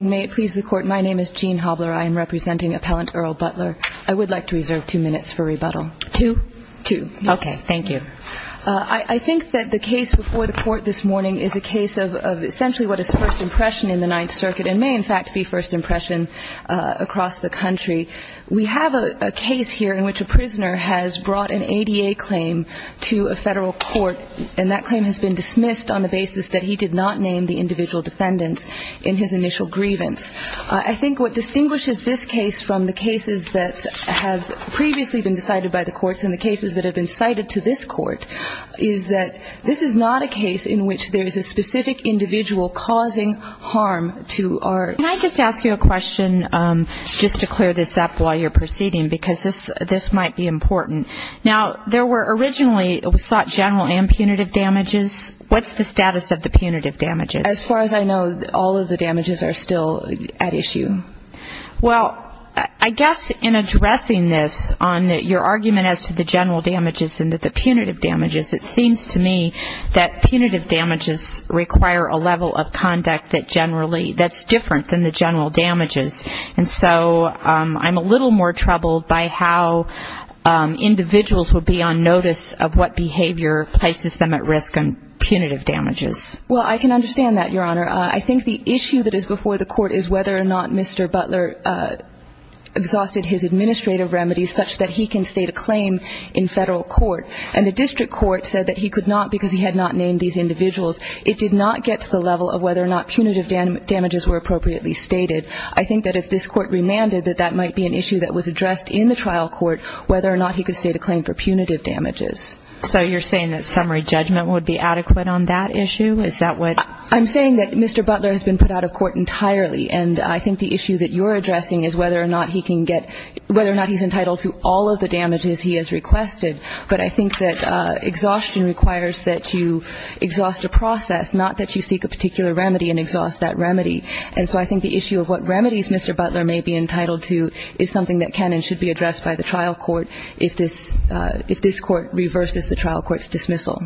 May it please the Court, my name is Jean Hobler. I am representing Appellant Earl Butler. I would like to reserve two minutes for rebuttal. Two? Two minutes. Okay, thank you. I think that the case before the Court this morning is a case of essentially what is first impression in the Ninth Circuit and may, in fact, be first impression across the country. We have a case here in which a prisoner has brought an ADA claim to a federal court, and that claim has been dismissed on the basis that he did not name the individual defendants in his initial grievance. I think what distinguishes this case from the cases that have previously been decided by the courts and the cases that have been cited to this court is that this is not a case in which there is a specific individual causing harm to our – Can I just ask you a question, just to clear this up while you're proceeding, because this might be important. Now, there were originally – it was sought general and punitive damages. What's the status of the punitive damages? As far as I know, all of the damages are still at issue. Well, I guess in addressing this on your argument as to the general damages and the punitive damages, it seems to me that punitive damages require a level of conduct that generally – that's different than the general damages. And so I'm a little more troubled by how individuals would be on notice of what behavior places them at risk on punitive damages. Well, I can understand that, Your Honor. I think the issue that is before the court is whether or not Mr. Butler exhausted his administrative remedies such that he can state a claim in federal court. And the district court said that he could not because he had not named these individuals. It did not get to the level of whether or not punitive damages were appropriately stated. I think that if this Court remanded that that might be an issue that was addressed in the trial court, whether or not he could state a claim for punitive damages. So you're saying that summary judgment would be adequate on that issue? Is that what – I'm saying that Mr. Butler has been put out of court entirely, and I think the issue that you're addressing is whether or not he can get – whether or not he's entitled to all of the damages he has requested. But I think that exhaustion requires that you exhaust a process, not that you seek a particular remedy and exhaust that remedy. And so I think the issue of what remedies Mr. Butler may be entitled to is something that can and should be addressed by the trial court if this – if this Court reverses the trial court's dismissal.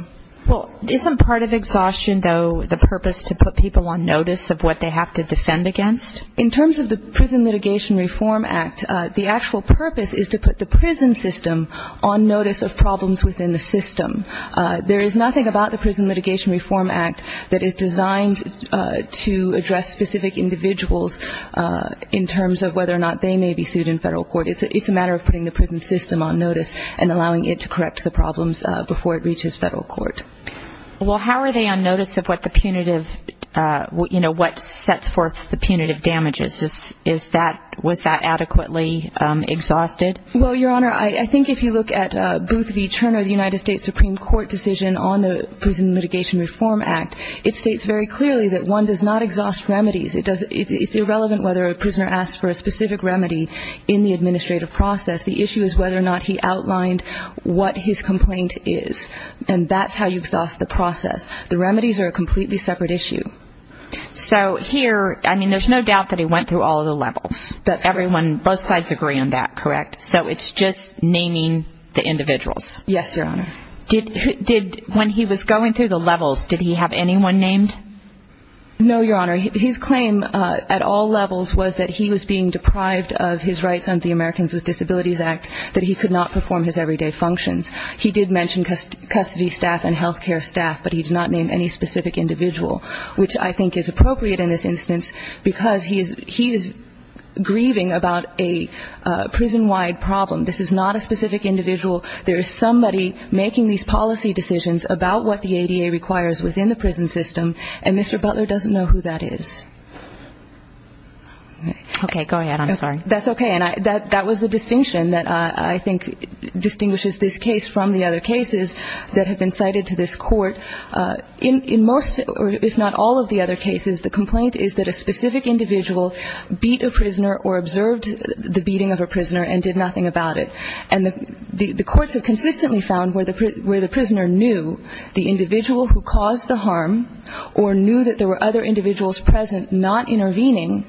Well, isn't part of exhaustion, though, the purpose to put people on notice of what they have to defend against? In terms of the Prison Litigation Reform Act, the actual purpose is to put the prison system on notice of problems within the system. There is nothing about the Prison Litigation Reform Act that is designed to address specific individuals in terms of whether or not they may be sued in federal court. It's a matter of putting the prison system on notice and allowing it to correct the problems before it reaches federal court. Well, how are they on notice of what the punitive – you know, what sets forth the punitive damages? Is that – was that adequately exhausted? Well, Your Honor, I think if you look at Booth v. Turner, the United States Supreme Court decision on the Prison Litigation Reform Act, it states very clearly that one does not exhaust remedies. It does – it's irrelevant whether a prisoner asks for a specific remedy in the administrative process. The issue is whether or not he outlined what his complaint is. And that's how you exhaust the process. The remedies are a completely separate issue. So here – I mean, there's no doubt that he went through all of the levels. That's correct. So it's just naming the individuals. Yes, Your Honor. Did – when he was going through the levels, did he have anyone named? No, Your Honor. His claim at all levels was that he was being deprived of his rights under the Americans with Disabilities Act, that he could not perform his everyday functions. He did mention custody staff and health care staff, but he did not name any specific individual, which I think is appropriate in this instance because he is grieving about a prison-wide problem. This is not a specific individual. There is somebody making these policy decisions about what the ADA requires within the prison system, and Mr. Butler doesn't know who that is. Okay, go ahead. I'm sorry. That's okay. And that was the distinction that I think distinguishes this case from the other cases that have been cited to this court. In most, if not all of the other cases, the complaint is that a specific individual beat a prisoner or observed the beating of a prisoner and did nothing about it. And the courts have consistently found where the prisoner knew the individual who caused the harm or knew that there were other individuals present not intervening,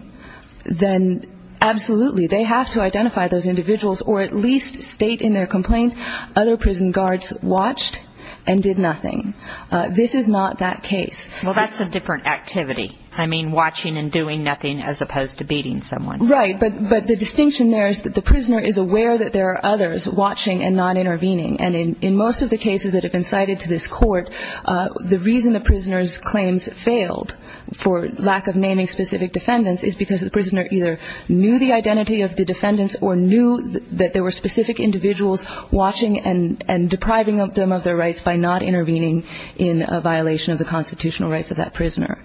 then absolutely they have to identify those individuals or at least state in their complaint other prison guards watched and did nothing. This is not that case. Well, that's a different activity. I mean watching and doing nothing as opposed to beating someone. Right. But the distinction there is that the prisoner is aware that there are others watching and not intervening. And in most of the cases that have been cited to this court, the reason the prisoner's claims failed for lack of naming specific defendants is because the prisoner either knew the identity of the defendants or knew that there were specific individuals watching and depriving them of their rights by not intervening in a violation of the constitutional rights of that prisoner.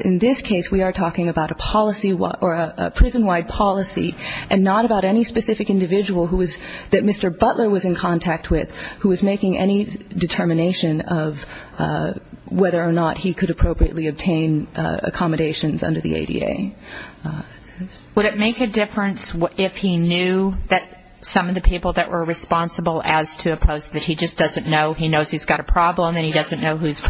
In this case, we are talking about a policy or a prison-wide policy and not about any specific individual who was – that Mr. Butler was in contact with who was making any determination of whether or not he could appropriately obtain accommodations under the ADA. Would it make a difference if he knew that some of the people that were responsible as to oppose, that he just doesn't know, he knows he's got a problem and he doesn't know who's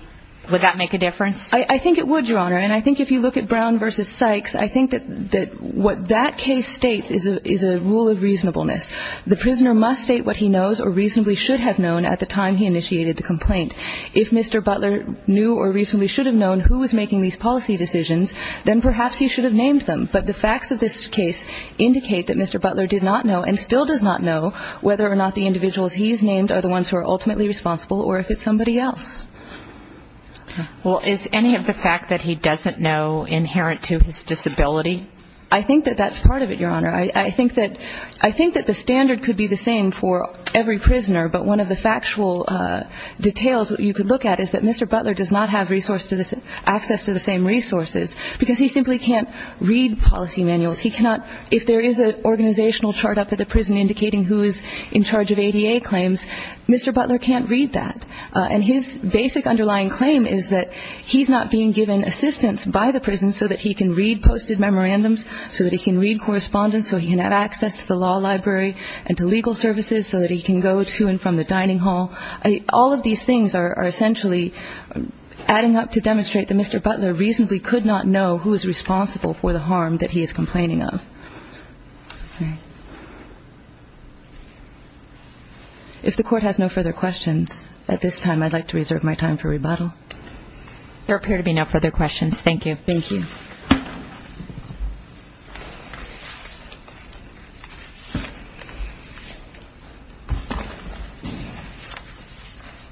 – would that make a difference? I think it would, Your Honor. And I think if you look at Brown v. Sykes, I think that what that case states is a rule of reasonableness. The prisoner must state what he knows or reasonably should have known at the time he initiated the complaint. If Mr. Butler knew or reasonably should have known who was making these policy decisions, then perhaps he should have named them. But the facts of this case indicate that Mr. Butler did not know and still does not know whether or not the individuals he's named are the ones who are ultimately responsible or if it's somebody else. Well, is any of the fact that he doesn't know inherent to his disability? I think that that's part of it, Your Honor. I think that – I think that the standard could be the same for every prisoner, but one of the factual details that you could look at is that Mr. Butler does not have resource to the – because he simply can't read policy manuals. He cannot – if there is an organizational chart up at the prison indicating who is in charge of ADA claims, Mr. Butler can't read that. And his basic underlying claim is that he's not being given assistance by the prison so that he can read posted memorandums, so that he can read correspondence, so he can have access to the law library and to legal services, so that he can go to and from the dining hall. All of these things are essentially adding up to demonstrate that Mr. Butler reasonably could not know who is responsible for the harm that he is complaining of. If the Court has no further questions at this time, I'd like to reserve my time for rebuttal. There appear to be no further questions. Thank you. Thank you.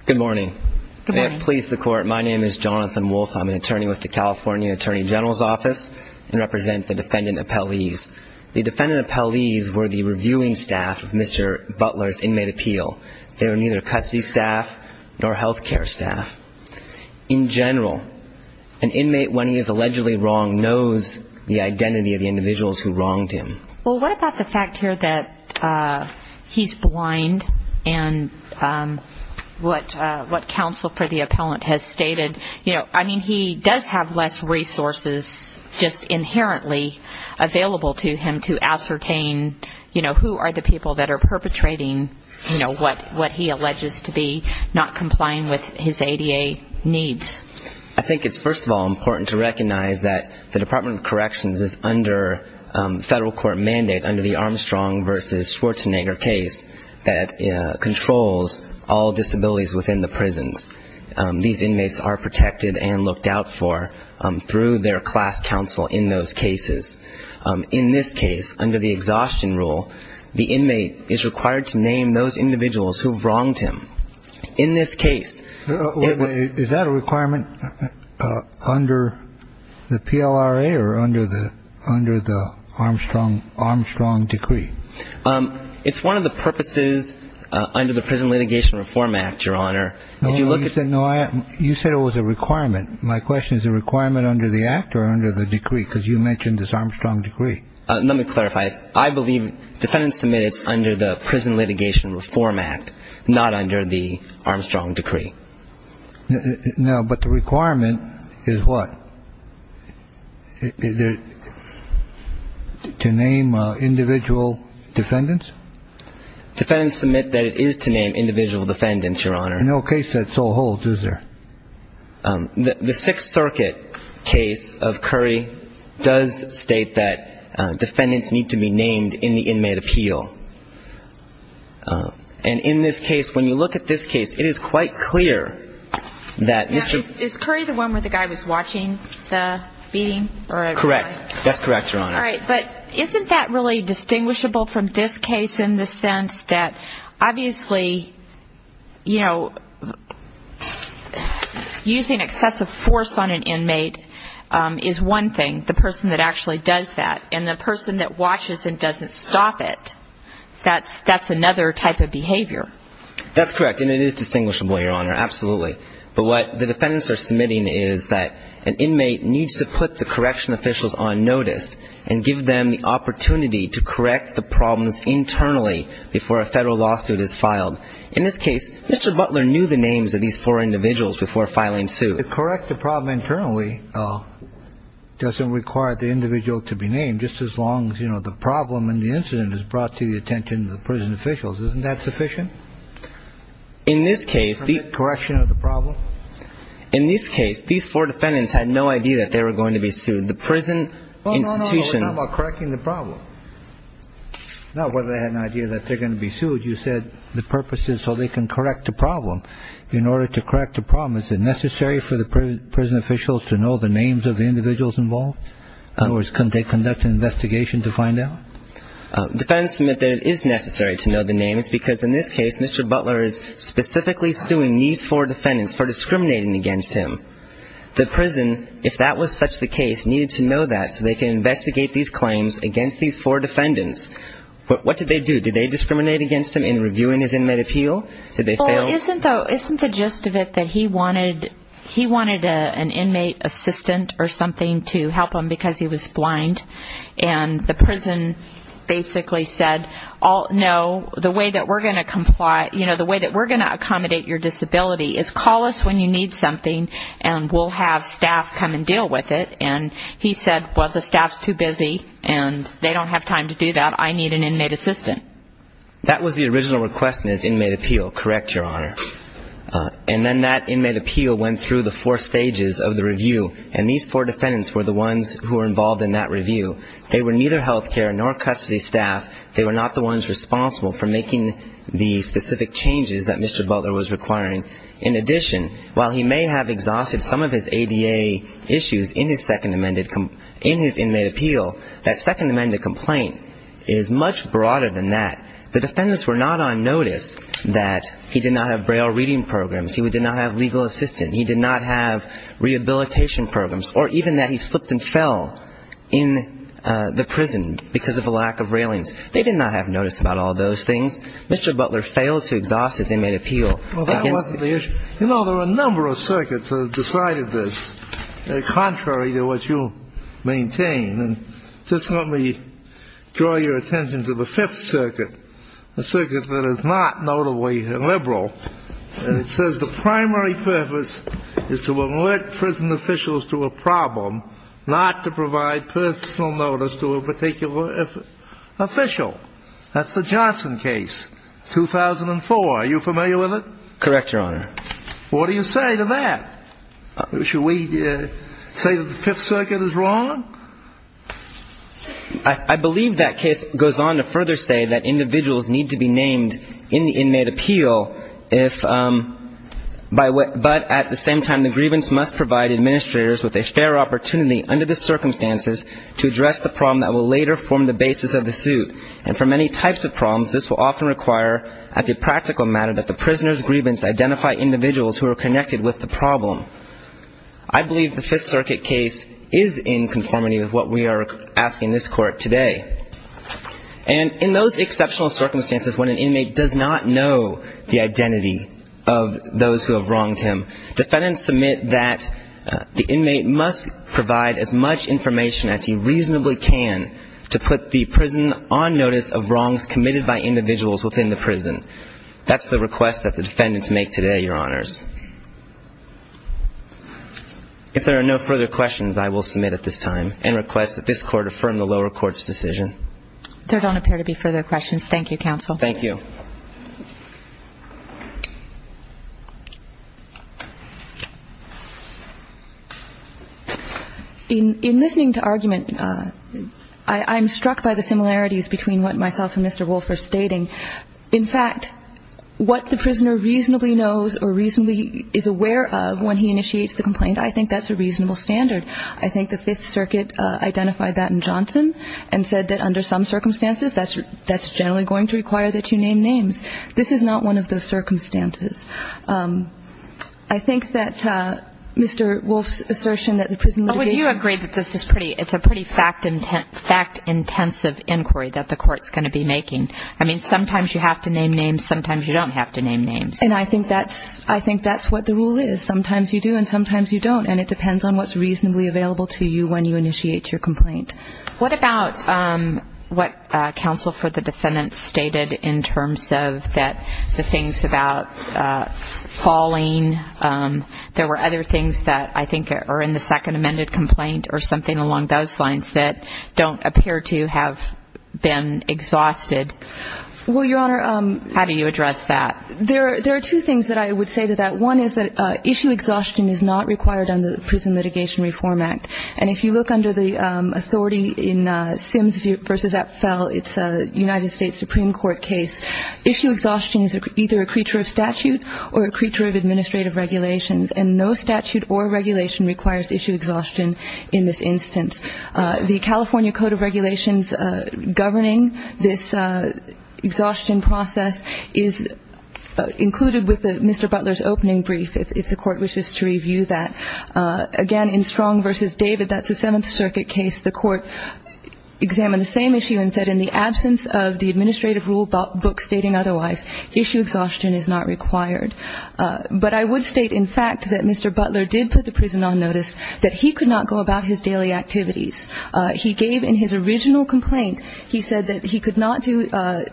Good morning. Good morning. May it please the Court, my name is Jonathan Wolfe. I'm an attorney with the California Attorney General's Office and represent the defendant appellees. The defendant appellees were the reviewing staff of Mr. Butler's inmate appeal. They were neither custody staff nor health care staff. In general, an inmate, when he is allegedly wronged, knows the identity of the individuals who wronged him. Well, what about the fact here that he's blind and what counsel for the appellant has stated? I mean, he does have less resources just inherently available to him to ascertain, you know, who are the people that are perpetrating what he alleges to be not complying with his ADA needs. I think it's, first of all, important to recognize that the Department of Corrections is under federal court mandate under the Armstrong v. Schwarzenegger case that controls all disabilities within the prisons. These inmates are protected and looked out for through their class counsel in those cases. In this case, under the exhaustion rule, the inmate is required to name those individuals who wronged him. In this case. Is that a requirement under the PLRA or under the Armstrong decree? It's one of the purposes under the Prison Litigation Reform Act, Your Honor. You said it was a requirement. My question is, is it a requirement under the act or under the decree because you mentioned this Armstrong decree? Let me clarify this. I believe defendants submit it's under the Prison Litigation Reform Act, not under the Armstrong decree. No, but the requirement is what? To name individual defendants? Defendants submit that it is to name individual defendants, Your Honor. No case that so holds, is there? The Sixth Circuit case of Curry does state that defendants need to be named in the inmate appeal. And in this case, when you look at this case, it is quite clear that this is. Is Curry the one where the guy was watching the beating? That's correct, Your Honor. All right, but isn't that really distinguishable from this case in the sense that obviously, you know, using excessive force on an inmate is one thing, the person that actually does that. And the person that watches and doesn't stop it, that's another type of behavior. That's correct, and it is distinguishable, Your Honor, absolutely. But what the defendants are submitting is that an inmate needs to put the correction officials on notice and give them the opportunity to correct the problems internally before a federal lawsuit is filed. In this case, Mr. Butler knew the names of these four individuals before filing suit. To correct the problem internally doesn't require the individual to be named, just as long as, you know, the problem and the incident is brought to the attention of the prison officials. Isn't that sufficient? Correction of the problem? In this case, these four defendants had no idea that they were going to be sued. No, no, no, we're talking about correcting the problem, not whether they had an idea that they're going to be sued. You said the purpose is so they can correct the problem. In order to correct the problem, is it necessary for the prison officials to know the names of the individuals involved? In other words, couldn't they conduct an investigation to find out? Defendants submit that it is necessary to know the names because, in this case, Mr. Butler is specifically suing these four defendants for discriminating against him. The prison, if that was such the case, needed to know that so they can investigate these claims against these four defendants. What did they do? Did they discriminate against him in reviewing his inmate appeal? Did they fail? Well, isn't the gist of it that he wanted an inmate assistant or something to help him because he was blind and the prison basically said, no, the way that we're going to accommodate your disability is call us when you need something and we'll have staff come and deal with it. And he said, well, the staff's too busy and they don't have time to do that. I need an inmate assistant. That was the original request in his inmate appeal, correct, Your Honor. And then that inmate appeal went through the four stages of the review and these four defendants were the ones who were involved in that review. They were neither health care nor custody staff. They were not the ones responsible for making the specific changes that Mr. Butler was requiring. In addition, while he may have exhausted some of his ADA issues in his second amended complaint, in his inmate appeal, that second amended complaint is much broader than that. The defendants were not on notice that he did not have braille reading programs, he did not have legal assistance, he did not have rehabilitation programs, or even that he slipped and fell in the prison because of a lack of railings. They did not have notice about all those things. Mr. Butler failed to exhaust his inmate appeal. Well, that wasn't the issue. You know, there are a number of circuits that have decided this, contrary to what you maintain. And just let me draw your attention to the Fifth Circuit, a circuit that is not notably liberal. It says the primary purpose is to alert prison officials to a problem, not to provide personal notice to a particular official. That's the Johnson case, 2004. Are you familiar with it? Correct, Your Honor. What do you say to that? Should we say that the Fifth Circuit is wrong? I believe that case goes on to further say that individuals need to be named in the inmate appeal if, but at the same time, the grievance must provide administrators with a fair opportunity under the circumstances to address the problem that will later form the basis of the suit. And for many types of problems, this will often require, as a practical matter, that the prisoner's grievance identify individuals who are connected with the problem. I believe the Fifth Circuit case is in conformity with what we are asking this Court today. And in those exceptional circumstances when an inmate does not know the identity of those who have wronged him, defendants submit that the inmate must provide as much information as he reasonably can to put the prison on notice of wrongs committed by individuals within the prison. That's the request that the defendants make today, Your Honors. If there are no further questions, I will submit at this time and request that this Court affirm the lower court's decision. There don't appear to be further questions. Thank you, Counsel. Thank you. In listening to argument, I'm struck by the similarities between what myself and Mr. Wolf are stating. In fact, what the prisoner reasonably knows or reasonably is aware of when he initiates the complaint, I think that's a reasonable standard. I think the Fifth Circuit identified that in Johnson and said that under some circumstances, that's generally going to require that you name names. This is not one of those circumstances. I think that Mr. Wolf's assertion that the prison litigation ---- Would you agree that this is pretty, it's a pretty fact-intensive inquiry that the Court's going to be making? I mean, sometimes you have to name names, sometimes you don't have to name names. And I think that's what the rule is. Sometimes you do and sometimes you don't. And it depends on what's reasonably available to you when you initiate your complaint. What about what counsel for the defendants stated in terms of the things about falling? There were other things that I think are in the second amended complaint or something along those lines that don't appear to have been exhausted. Well, Your Honor ---- How do you address that? There are two things that I would say to that. One is that issue exhaustion is not required under the Prison Litigation Reform Act. And if you look under the authority in Sims v. Epfel, it's a United States Supreme Court case. Issue exhaustion is either a creature of statute or a creature of administrative regulations. And no statute or regulation requires issue exhaustion in this instance. The California Code of Regulations governing this exhaustion process is included with Mr. Butler's opening brief, if the Court wishes to review that. Again, in Strong v. David, that's a Seventh Circuit case, the Court examined the same issue and said in the absence of the administrative rule book stating otherwise, issue exhaustion is not required. But I would state, in fact, that Mr. Butler did put the prison on notice that he could not go about his daily activities. He gave in his original complaint, he said that he could not do ----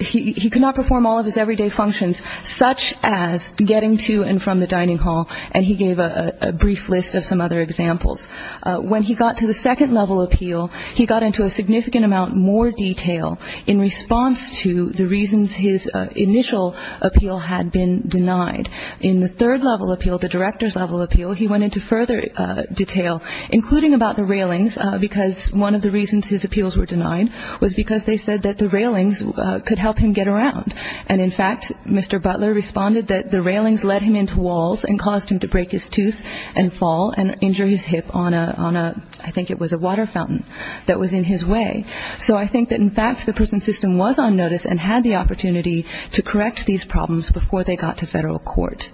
he could not perform all of his everyday functions such as getting to and from the dining hall, and he gave a brief list of some other examples. When he got to the second level appeal, he got into a significant amount more detail in response to the reasons his initial appeal had been denied. In the third level appeal, the director's level appeal, he went into further detail, including about the railings, because one of the reasons his appeals were denied was because they said that the railings could help him get around. And, in fact, Mr. Butler responded that the railings led him into walls and caused him to break his tooth and fall and injure his hip on a, I think it was a water fountain that was in his way. So I think that, in fact, the prison system was on notice and had the opportunity to correct these problems before they got to federal court.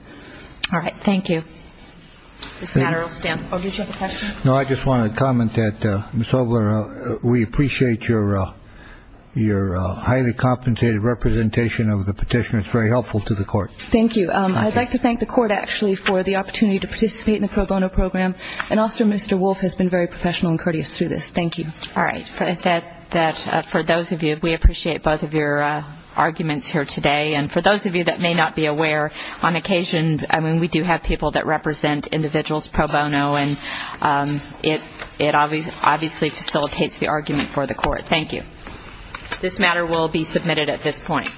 All right. Thank you. This matter will stand. Oh, did you have a question? No, I just wanted to comment that, Ms. Ogler, we appreciate your highly compensated representation of the petition. It's very helpful to the court. Thank you. I'd like to thank the court, actually, for the opportunity to participate in the pro bono program, and also Mr. Wolf has been very professional and courteous through this. Thank you. All right. For those of you, we appreciate both of your arguments here today. And for those of you that may not be aware, on occasion, I mean, we do have people that represent individuals pro bono, and it obviously facilitates the argument for the court. Thank you. This matter will be submitted at this point.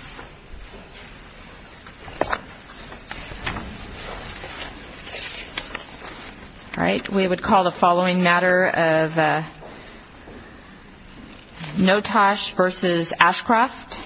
All right. We would call the following matter of Notosh v. Ashcroft.